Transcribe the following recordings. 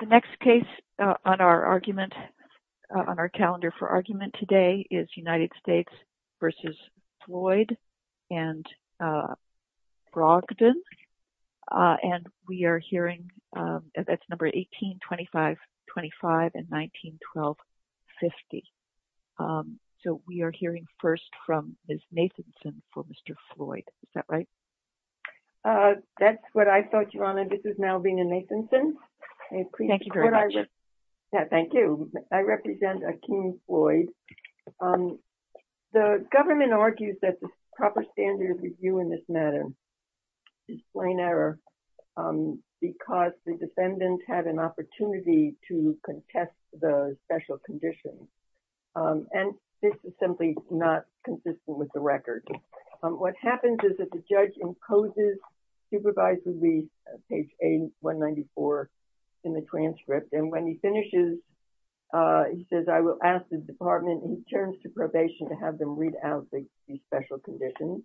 The next case on our argument on our calendar for argument today is United States v. Floyd and Brogdon and we are hearing that's number 18, 25, 25 and 19, 12, 50. So we are hearing first from Ms. Nathanson for Mr. Floyd. Is that right? That's what I thought, Your Honor. This is Malvina Nathanson. Thank you very much. Yeah, thank you. I represent Akeem Floyd. The government argues that the proper standard review in this matter is plain error because the defendant had an opportunity to contest the special conditions and this is simply not consistent with the record. What happens is the judge imposes supervisory leave, page 194 in the transcript and when he finishes, he says I will ask the department in terms of probation to have them read out the special conditions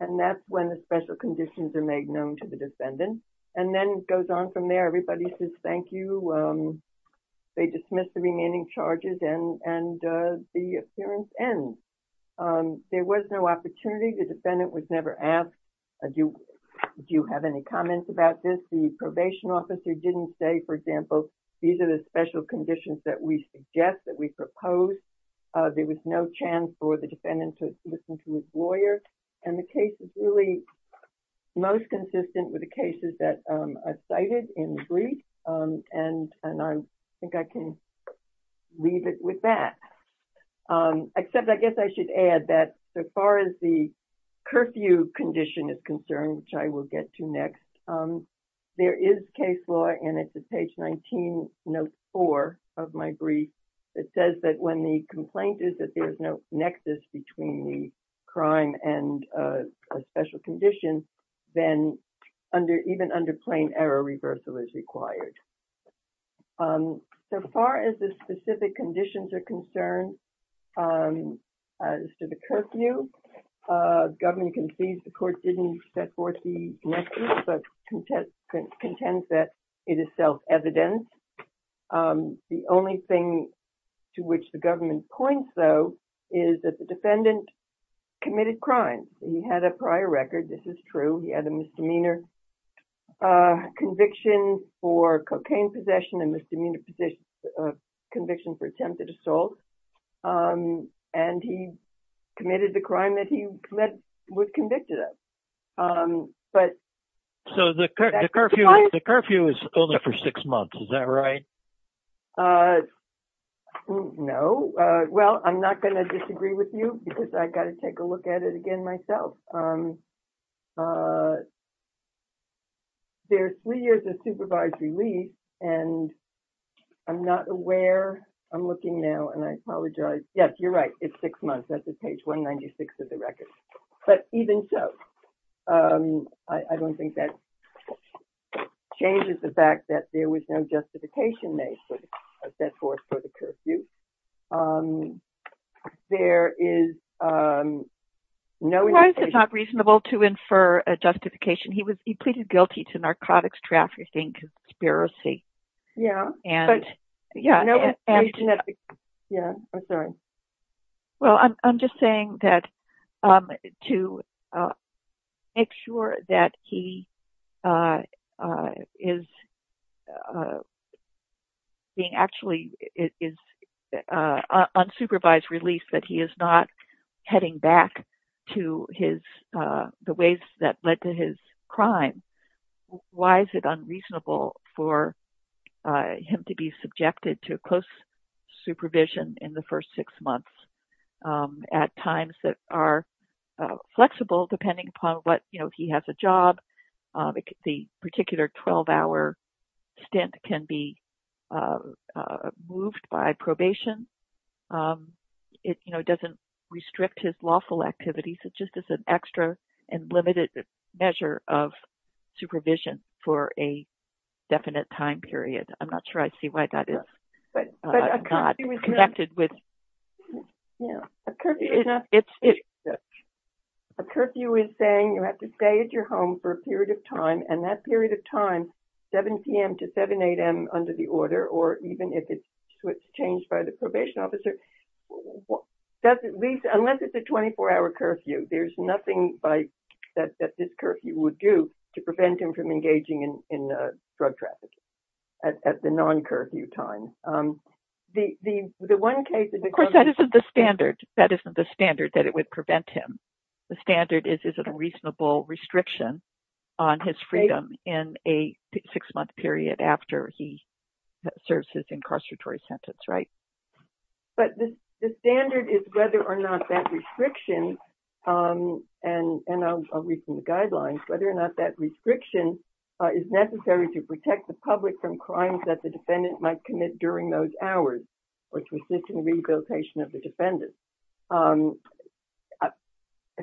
and that's when the special conditions are made known to the defendant and then it goes on from there. Everybody says thank you. They dismiss the remaining charges and the appearance ends. There was no opportunity. The defendant was never asked, do you have any comments about this? The probation officer didn't say, for example, these are the special conditions that we suggest, that we propose. There was no chance for the defendant to listen to his lawyer and the case is really most consistent with the cases that are cited in the brief and I think I can leave it with that. Except I guess I should add that so far as the curfew condition is concerned, which I will get to next, there is case law and it's at page 19, note 4 of my brief, it says that when the complaint is that there's no nexus between the crime and a special condition, then even under plain error, reversal is required. So far as the specific conditions are concerned as to the curfew, the government concedes the court didn't set forth the nexus but contends that it is self-evident. The only thing to which the government points though is that the defendant committed crimes. He had a prior record, this is true, he had a misdemeanor conviction for cocaine possession and misdemeanor conviction for attempted assault and he committed the crime that he was convicted of. So the curfew is only for six months, is that right? No. Well, I'm not going to disagree with you because I got to take a look at it again myself. There's three years of supervisory leave and I'm not aware, I'm looking now and I apologize. Yes, you're right, it's six months, that's at page 196 of the record. But even so, I don't think that changes the fact that there was no justification made for the curfew. There is no reason to infer a justification. He pleaded guilty to narcotics trafficking conspiracy. Yeah, I'm sorry. Well, I'm just saying that to make sure that he is being actually is unsupervised release, that he is not heading back to the ways that led to his crime. Why is it unreasonable for him to be subjected to close supervision in the first six months at times that are flexible depending upon what, you know, if he has a job, the particular 12-hour stint can be moved by probation. It doesn't restrict his lawful activities, it's just as an extra and limited measure of supervision for a definite time period. I'm not sure I see why that is. A curfew is saying you have to stay at your home for a period of time and that period of time, 7 p.m. to 7 a.m. under the order or even if it's changed by the probation officer, unless it's a 24-hour curfew, there's nothing that this in drug trafficking at the non-curfew time. Of course, that isn't the standard that it would prevent him. The standard is a reasonable restriction on his freedom in a six-month period after he serves his incarceratory sentence, right? But the standard is whether or not that restriction is necessary to protect the public from crimes that the defendant might commit during those hours, which resists the rehabilitation of the defendant.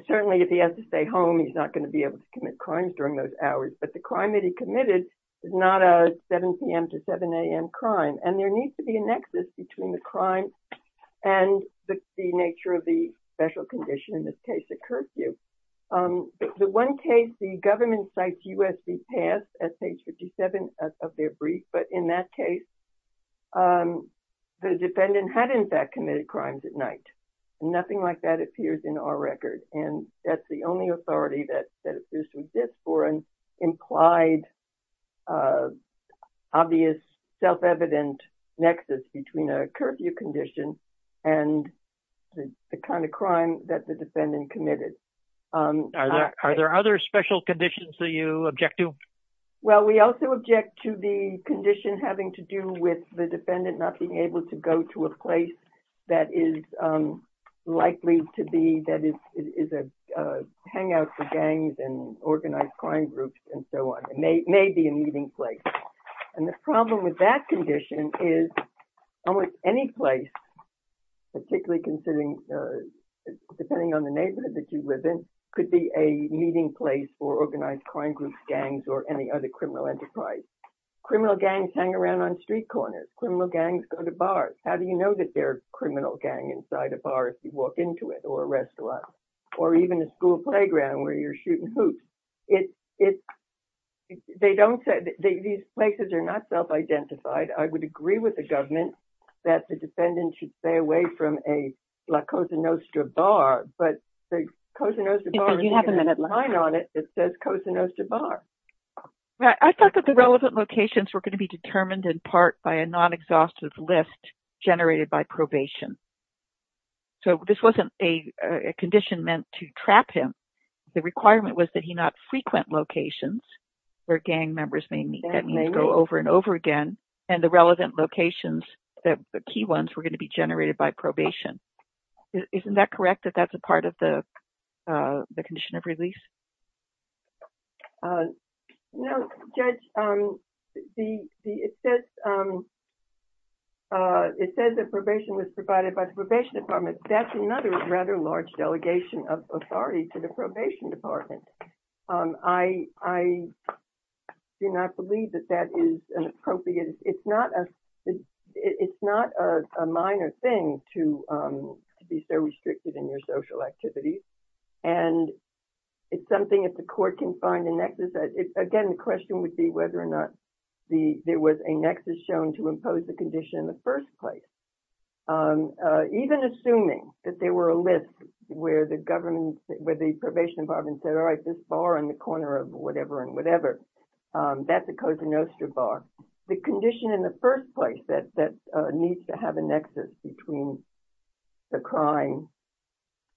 Certainly, if he has to stay home, he's not going to be able to commit crimes during those hours, but the crime that he committed is not a 7 p.m. to 7 a.m. crime, and there needs to be a nexus between the crime and the nature of the special condition in this case, the curfew. The one case the government cites USC's past at page 57 of their brief, but in that case, the defendant had, in fact, committed crimes at night. Nothing like that appears in our record, and that's the only authority that this exists for an implied, obvious, self-evident nexus between curfew condition and the kind of crime that the defendant committed. Are there other special conditions that you object to? Well, we also object to the condition having to do with the defendant not being able to go to a place that is likely to be that is a hangout for gangs and organized crime groups and so on. It may be a meeting place, and the problem with that condition is almost any place, particularly considering, depending on the neighborhood that you live in, could be a meeting place for organized crime groups, gangs, or any other criminal enterprise. Criminal gangs hang around on street corners. Criminal gangs go to bars. How do you know that they're a criminal gang inside a bar if you walk into it or a restaurant or even a school playground where you're shooting hoops? It's, they don't say, these places are not self-identified. I would agree with the government that the defendant should stay away from a La Cosa Nostra bar, but the Cosa Nostra bar doesn't have a sign on it that says Cosa Nostra bar. I thought that the relevant locations were going to be determined in part by a non-exhaustive list generated by probation. So, this wasn't a condition meant to trap him. The requirement was that he not frequent locations where gang members may meet. That means go over and over again, and the relevant locations, the key ones, were going to be generated by probation. Isn't that correct, that that's a part of the condition of release? No, Judge. It says that probation was provided by the probation department. That's another rather large delegation of authority to the probation department. I do not believe that that is appropriate. It's not a minor thing to be so restricted in your social activities, and it's something if the court can find a nexus. Again, the question would be whether or not there was a nexus shown to impose the condition in the first place. Even assuming that there were a list where the government, where the probation department said, all right, this bar on the corner of whatever and whatever, that's a Cosa Nostra bar. The condition in the first place that needs to have a nexus between the crime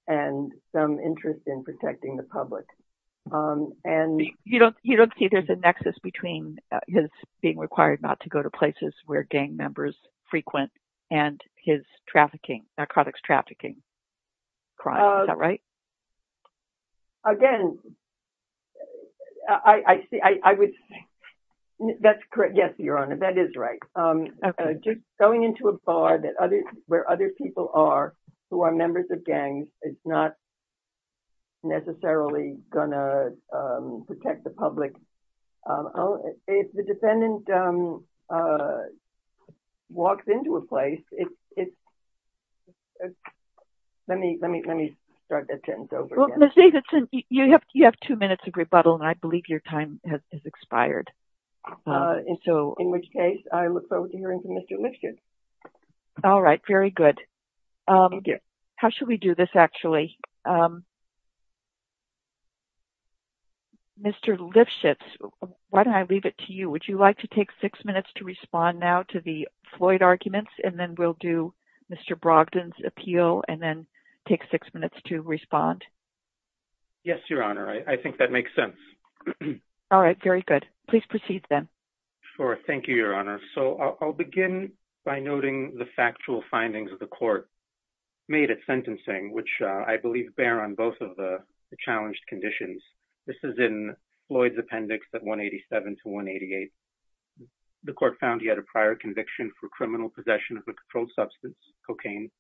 and some interest in protecting the public. You don't see there's a nexus between his being required not to go to and his trafficking, narcotics trafficking crime. Is that right? Again, I would say that's correct. Yes, Your Honor, that is right. Going into a bar where other people are who are members of gangs is not necessarily going to protect the public. If the defendant walks into a place, let me start that sentence over again. Ms. Davidson, you have two minutes of rebuttal, and I believe your time has expired. In which case, I look forward to hearing from Mr. Lipschitz. All right, very good. Thank you. How should we do this, actually? Mr. Lipschitz, why don't I leave it to you? Would you like to take six minutes to respond now to the Floyd arguments, and then we'll do Mr. Brogdon's appeal and then take six minutes to respond? Yes, Your Honor. I think that makes sense. All right, very good. Please proceed then. Sure. Thank you, Your Honor. I'll begin by noting the sentencing, which I believe bear on both of the challenged conditions. This is in Floyd's appendix at 187 to 188. The court found he had a prior conviction for criminal possession of a controlled substance, cocaine,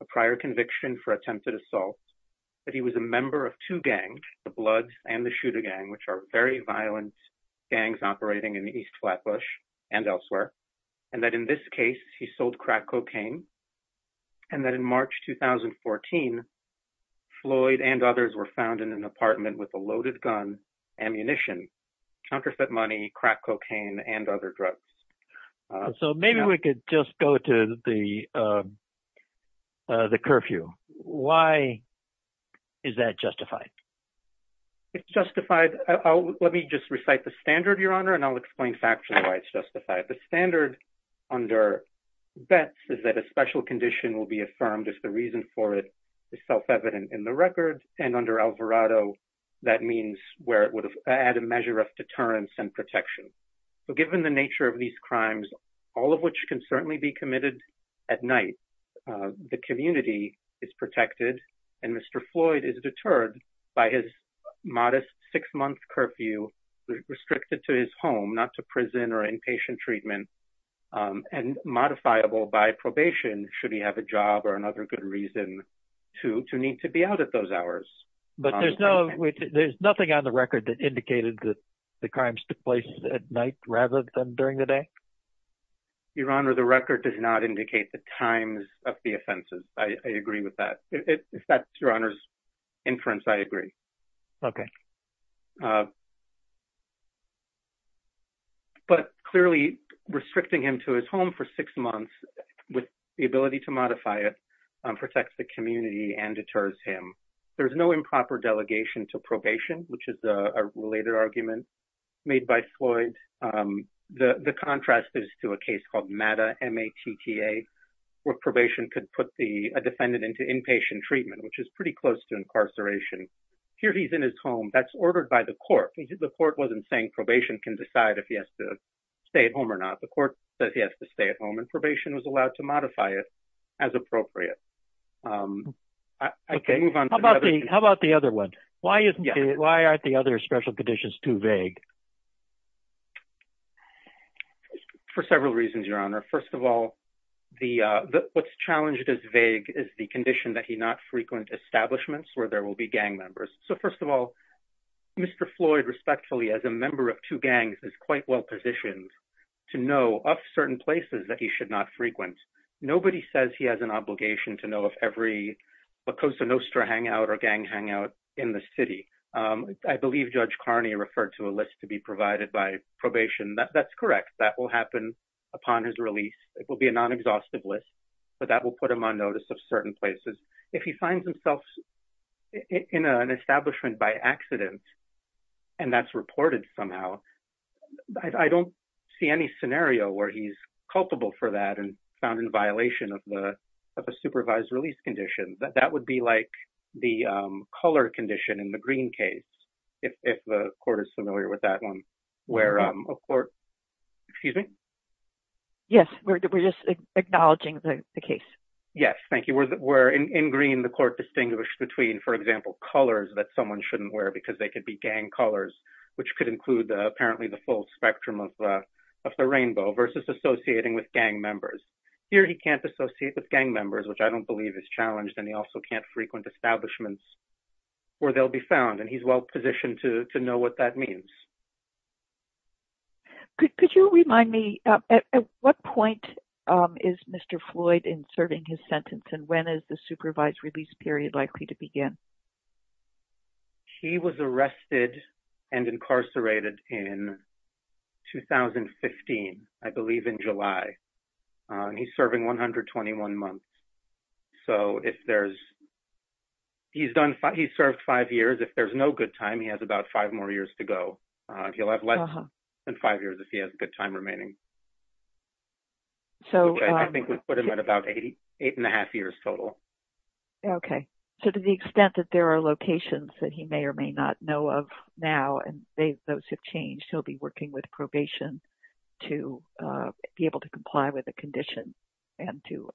a prior conviction for attempted assault, that he was a member of two gangs, the Blood and the Shooter Gang, which are very violent gangs operating in East Flatbush and elsewhere, and that in this case, he sold crack cocaine, and that in March 2014, Floyd and others were found in an apartment with a loaded gun, ammunition, counterfeit money, crack cocaine, and other drugs. So maybe we could just go to the curfew. Why is that justified? It's justified. Let me just recite the standard, Your Honor, and I'll explain factually why it's justified. The standard under Betz is that a special condition will be affirmed if the reason for it is self-evident in the record, and under Alvarado, that means where it would add a measure of deterrence and protection. So given the nature of these crimes, all of which can certainly be committed at night, the community is protected, and Mr. Floyd is deterred by his treatment, and modifiable by probation should he have a job or another good reason to need to be out at those hours. But there's nothing on the record that indicated that the crimes took place at night rather than during the day? Your Honor, the record does not indicate the times of the offenses. I agree with that. If that's Your Honor's inference, I agree. Okay. But clearly, restricting him to his home for six months with the ability to modify it protects the community and deters him. There's no improper delegation to probation, which is a related argument made by Floyd. The contrast is to a case called MATTA, where probation could put a defendant into inpatient treatment, which is pretty close to incarceration. Here he's in his home. That's ordered by the court. The court wasn't saying probation can decide if he has to stay at home or not. The court says he has to stay at home, and probation was allowed to modify it as appropriate. Okay. How about the other one? Why aren't the other special conditions too vague? For several reasons, Your Honor. First of all, what's challenged as vague is the condition that he not frequent establishments where there will be gang members. First of all, Mr. Floyd, respectfully, as a member of two gangs, is quite well positioned to know of certain places that he should not frequent. Nobody says he has an obligation to know of every Lacosa Nostra hangout or gang hangout in the city. I believe Judge Carney referred to a list to be provided by probation. That's correct. That will happen upon his release. It will be a non-exhaustive list, but that will put him on notice of certain places. If he finds himself in an establishment by accident, and that's reported somehow, I don't see any scenario where he's culpable for that and found in violation of a supervised release condition. That would be like the color condition in the green case, if the court is familiar with that where a court... Excuse me? Yes. We're just acknowledging the case. Yes. Thank you. In green, the court distinguished between, for example, colors that someone shouldn't wear because they could be gang colors, which could include apparently the full spectrum of the rainbow versus associating with gang members. Here, he can't associate with gang members, which I don't believe is challenged, and he also can't frequent establishments where they'll be found. He's well positioned to know what that means. Could you remind me, at what point is Mr. Floyd in serving his sentence, and when is the supervised release period likely to begin? He was arrested and incarcerated in 2015, I believe in July. He's serving 121 months. He's served five years. If there's no good time, he has about five more years to go. He'll have less than five years if he has a good time remaining. I think we put him at about eight and a half years total. Okay. To the extent that there are locations that he may or may not know of now, and those have changed, he'll be working with probation to be able to comply with the condition and to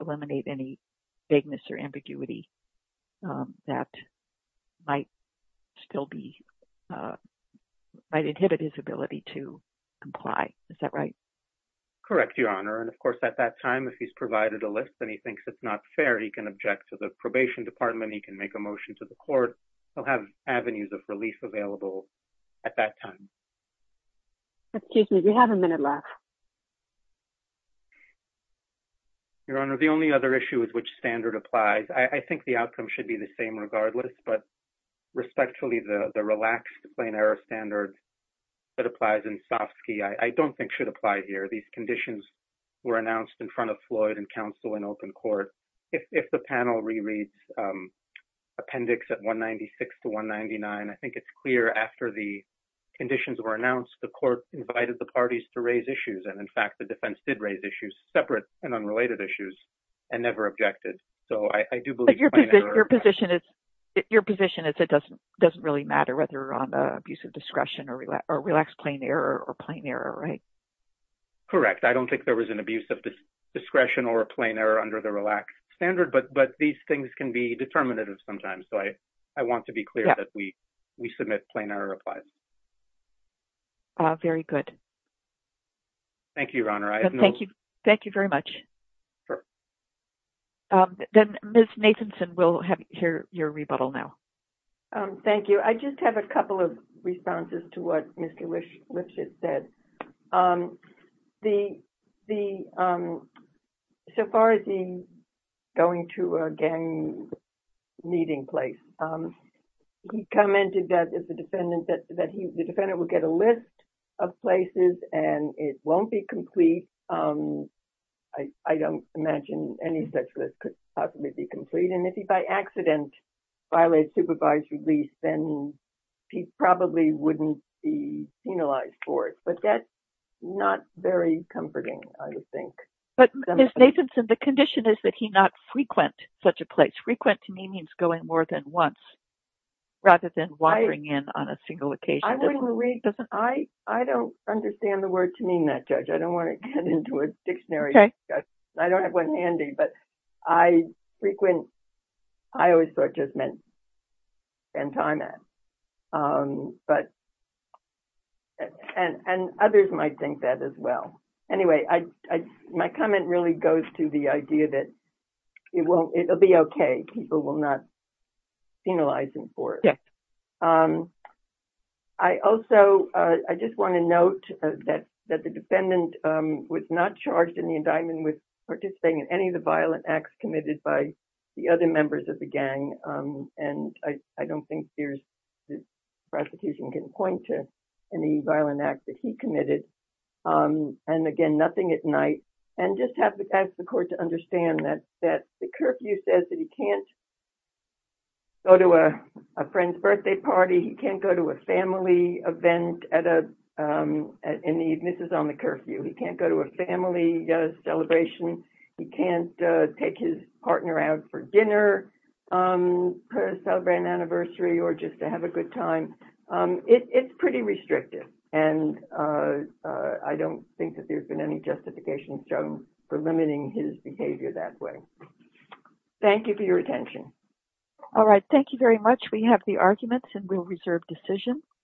inhibit his ability to comply. Is that right? Correct, Your Honor. Of course, at that time, if he's provided a list and he thinks it's not fair, he can object to the probation department. He can make a motion to the court. He'll have avenues of relief available at that time. Excuse me. We have a minute left. Your Honor, the only other issue is which standard applies. I think the outcome should the same regardless, but respectfully, the relaxed plain error standard that applies in Stofsky, I don't think should apply here. These conditions were announced in front of Floyd and counsel in open court. If the panel rereads Appendix 196 to 199, I think it's clear after the conditions were announced, the court invited the parties to raise issues. In fact, the defense did issues separate and unrelated issues and never objected. So, I do believe your position is it doesn't really matter whether you're on the abuse of discretion or relaxed plain error or plain error, right? Correct. I don't think there was an abuse of discretion or a plain error under the relaxed standard, but these things can be determinative sometimes. So, I want to be clear that we submit plain error applies. Very good. Thank you, Your Honor. Thank you very much. Then Ms. Nathanson, we'll hear your rebuttal now. Thank you. I just have a couple of responses to what Mr. Lifshitz said. So far as going to a gang meeting place, he commented that the defendant would get a list of places and it won't be complete. I don't imagine any such list could possibly be complete. And if he by accident violated supervised release, then he probably wouldn't be penalized for it. But that's not very comforting, I would think. But Ms. Nathanson, the condition is that he not frequent such a place. Frequent to me means going more than once rather than wandering in on a single occasion. I don't understand the word to mean that, Judge. I don't want to get into a dictionary. I don't have one handy, but I frequent, I always thought it just meant spend time at. And others might think that as well. Anyway, my comment really goes to the idea that it'll be okay. People will not penalize him for it. I also, I just want to note that the defendant was not charged in the indictment with participating in any of the violent acts committed by the other members of the gang. And I don't think prosecution can point to any violent acts that he committed. And again, nothing at night. And just have to ask the court to understand that the curfew says that he can't go to a friend's birthday party. He can't go to a family event in the evening. This is on the curfew. He can't go to a family celebration. He can't take his partner out for dinner, celebrate an anniversary or just to have a good time. It's pretty restrictive. And I don't think that there's been any justification shown for limiting his behavior that way. Thank you for your attention. All right. Thank you very much. We have the arguments and we'll reserve decisions.